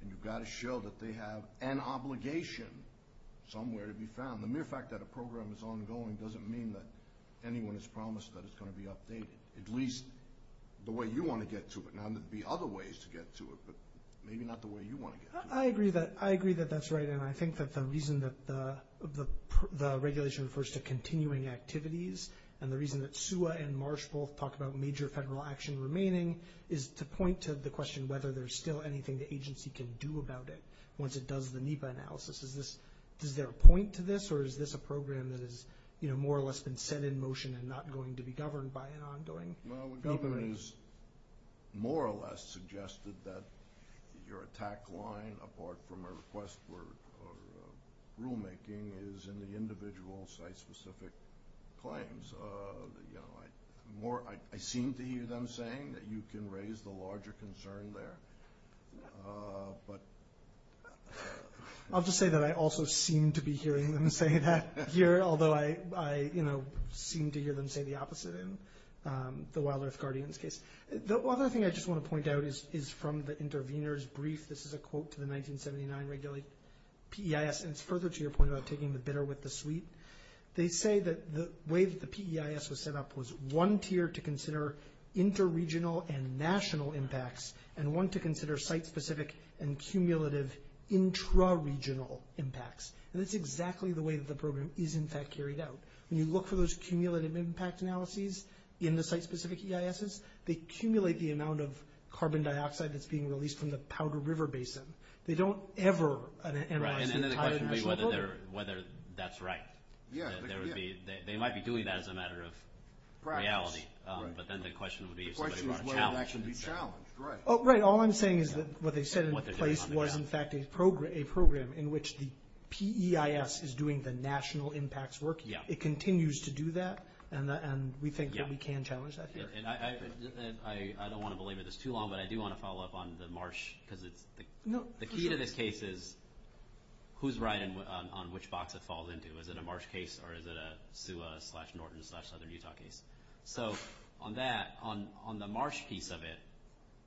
And you've got to show that they have an obligation somewhere to be found. The mere fact that a program is ongoing doesn't mean that anyone has promised that it's going to be updated, at least the way you want to get to it. Now, there'd be other ways to get to it, but maybe not the way you want to get to it. I agree that that's right. And I think that the reason that the regulation refers to continuing activities and the reason that SUA and Marsh both talk about major federal action remaining is to point to the question whether there's still anything the agency can do about it once it does the NEPA analysis. Does there a point to this, or is this a program that has more or less been set in motion and not going to be governed by an ongoing government? Well, the government has more or less suggested that your attack line, apart from a request for rulemaking, is in the individual site-specific claims. I seem to hear them saying that you can raise the larger concern there. I'll just say that I also seem to be hearing them say that here, although I seem to hear them say the opposite in the Wild Earth Guardians case. The other thing I just want to point out is from the intervener's brief. This is a quote to the 1979 PEIS, and it's further to your point about taking the bitter with the sweet. They say that the way that the PEIS was set up was one tier to consider inter-regional and national impacts and one to consider site-specific and cumulative intra-regional impacts. And that's exactly the way that the program is, in fact, carried out. When you look for those cumulative impact analyses in the site-specific EISs, they accumulate the amount of carbon dioxide that's being released from the Powder River Basin. They don't ever analyze the entire national impact. Right, and then the question would be whether that's right. They might be doing that as a matter of reality, but then the question would be if somebody was challenged. The question is whether that should be challenged, right. Right, all I'm saying is that what they said in place was, in fact, a program in which the PEIS is doing the national impacts work. It continues to do that, and we think that we can challenge that here. And I don't want to belabor this too long, but I do want to follow up on the Marsh, because the key to this case is who's right on which box it falls into. Is it a Marsh case or is it a SUA slash Norton slash Southern Utah case? So on that, on the Marsh piece of it,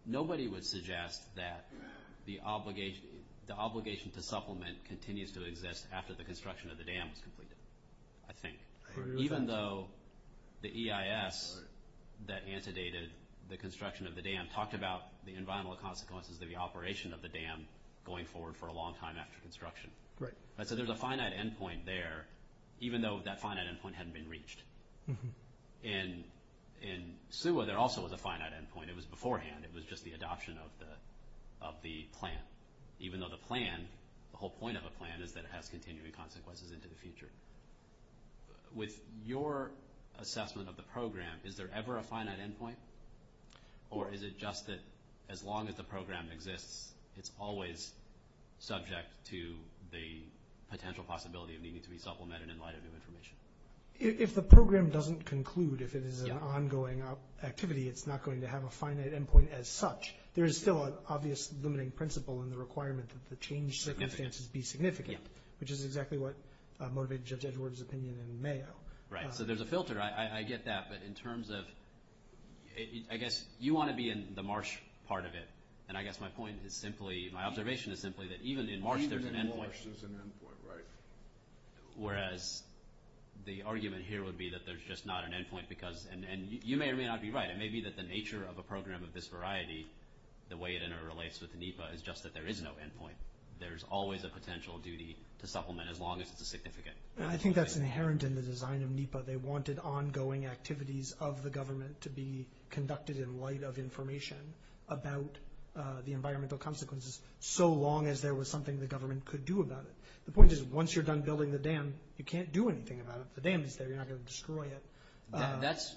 nobody would suggest that the obligation to supplement continues to exist after the construction of the dam is completed, I think. Even though the EIS that antedated the construction of the dam talked about the environmental consequences of the operation of the dam going forward for a long time after construction. So there's a finite endpoint there, even though that finite endpoint hadn't been reached. In SUA, there also was a finite endpoint. It was beforehand. It was just the adoption of the plan. Even though the plan, the whole point of a plan, is that it has continuing consequences into the future. With your assessment of the program, is there ever a finite endpoint? Or is it just that as long as the program exists, it's always subject to the potential possibility of needing to be supplemented in light of new information? If the program doesn't conclude, if it is an ongoing activity, it's not going to have a finite endpoint as such. There is still an obvious limiting principle in the requirement that the change circumstances be significant, which is exactly what motivated Judge Edwards' opinion in Mayo. Right. So there's a filter. I get that. But in terms of – I guess you want to be in the Marsh part of it. And I guess my point is simply – my observation is simply that even in Marsh, there's an endpoint. Even in Marsh, there's an endpoint, right. Whereas the argument here would be that there's just not an endpoint because – and you may or may not be right. It may be that the nature of a program of this variety, the way it interrelates with NEPA, is just that there is no endpoint. There's always a potential duty to supplement as long as it's significant. I think that's inherent in the design of NEPA. They wanted ongoing activities of the government to be conducted in light of information about the environmental consequences so long as there was something the government could do about it. The point is, once you're done building the dam, you can't do anything about it. The dam is there. You're not going to destroy it. That's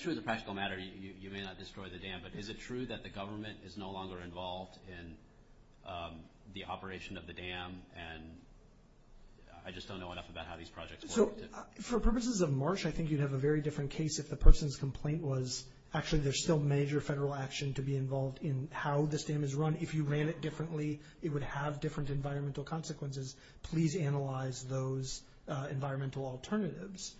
true as a practical matter. You may not destroy the dam. But is it true that the government is no longer involved in the operation of the dam? And I just don't know enough about how these projects work. So for purposes of Marsh, I think you'd have a very different case if the person's complaint was, actually, there's still major federal action to be involved in how this dam is run. And if you ran it differently, it would have different environmental consequences. Please analyze those environmental alternatives.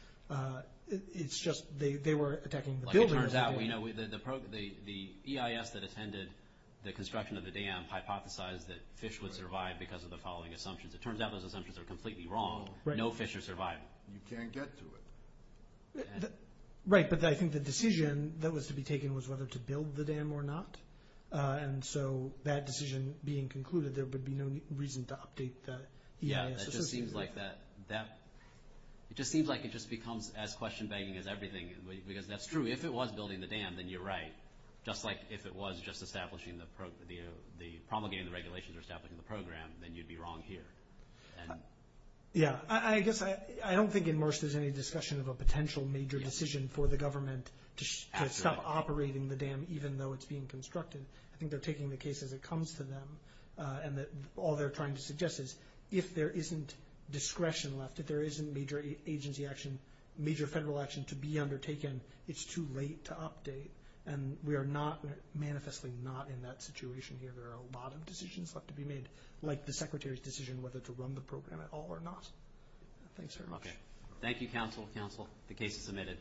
It's just they were attacking the building of the dam. Like it turns out, you know, the EIS that attended the construction of the dam hypothesized that fish would survive because of the following assumptions. It turns out those assumptions are completely wrong. No fish are surviving. You can't get to it. Right, but I think the decision that was to be taken was whether to build the dam or not. And so that decision being concluded, there would be no reason to update the EIS. Yeah, it just seems like it just becomes as question-banging as everything, because that's true. If it was building the dam, then you're right. Just like if it was just promulgating the regulations or establishing the program, then you'd be wrong here. Yeah, I guess I don't think in Marsh there's any discussion of a potential major decision for the government to stop operating the dam even though it's being constructed. I think they're taking the case as it comes to them, and all they're trying to suggest is if there isn't discretion left, if there isn't major agency action, major federal action to be undertaken, it's too late to update. And we are not, manifestly not, in that situation here. There are a lot of decisions left to be made, like the Secretary's decision Thanks very much. Thank you, Counsel. Counsel, the case is submitted.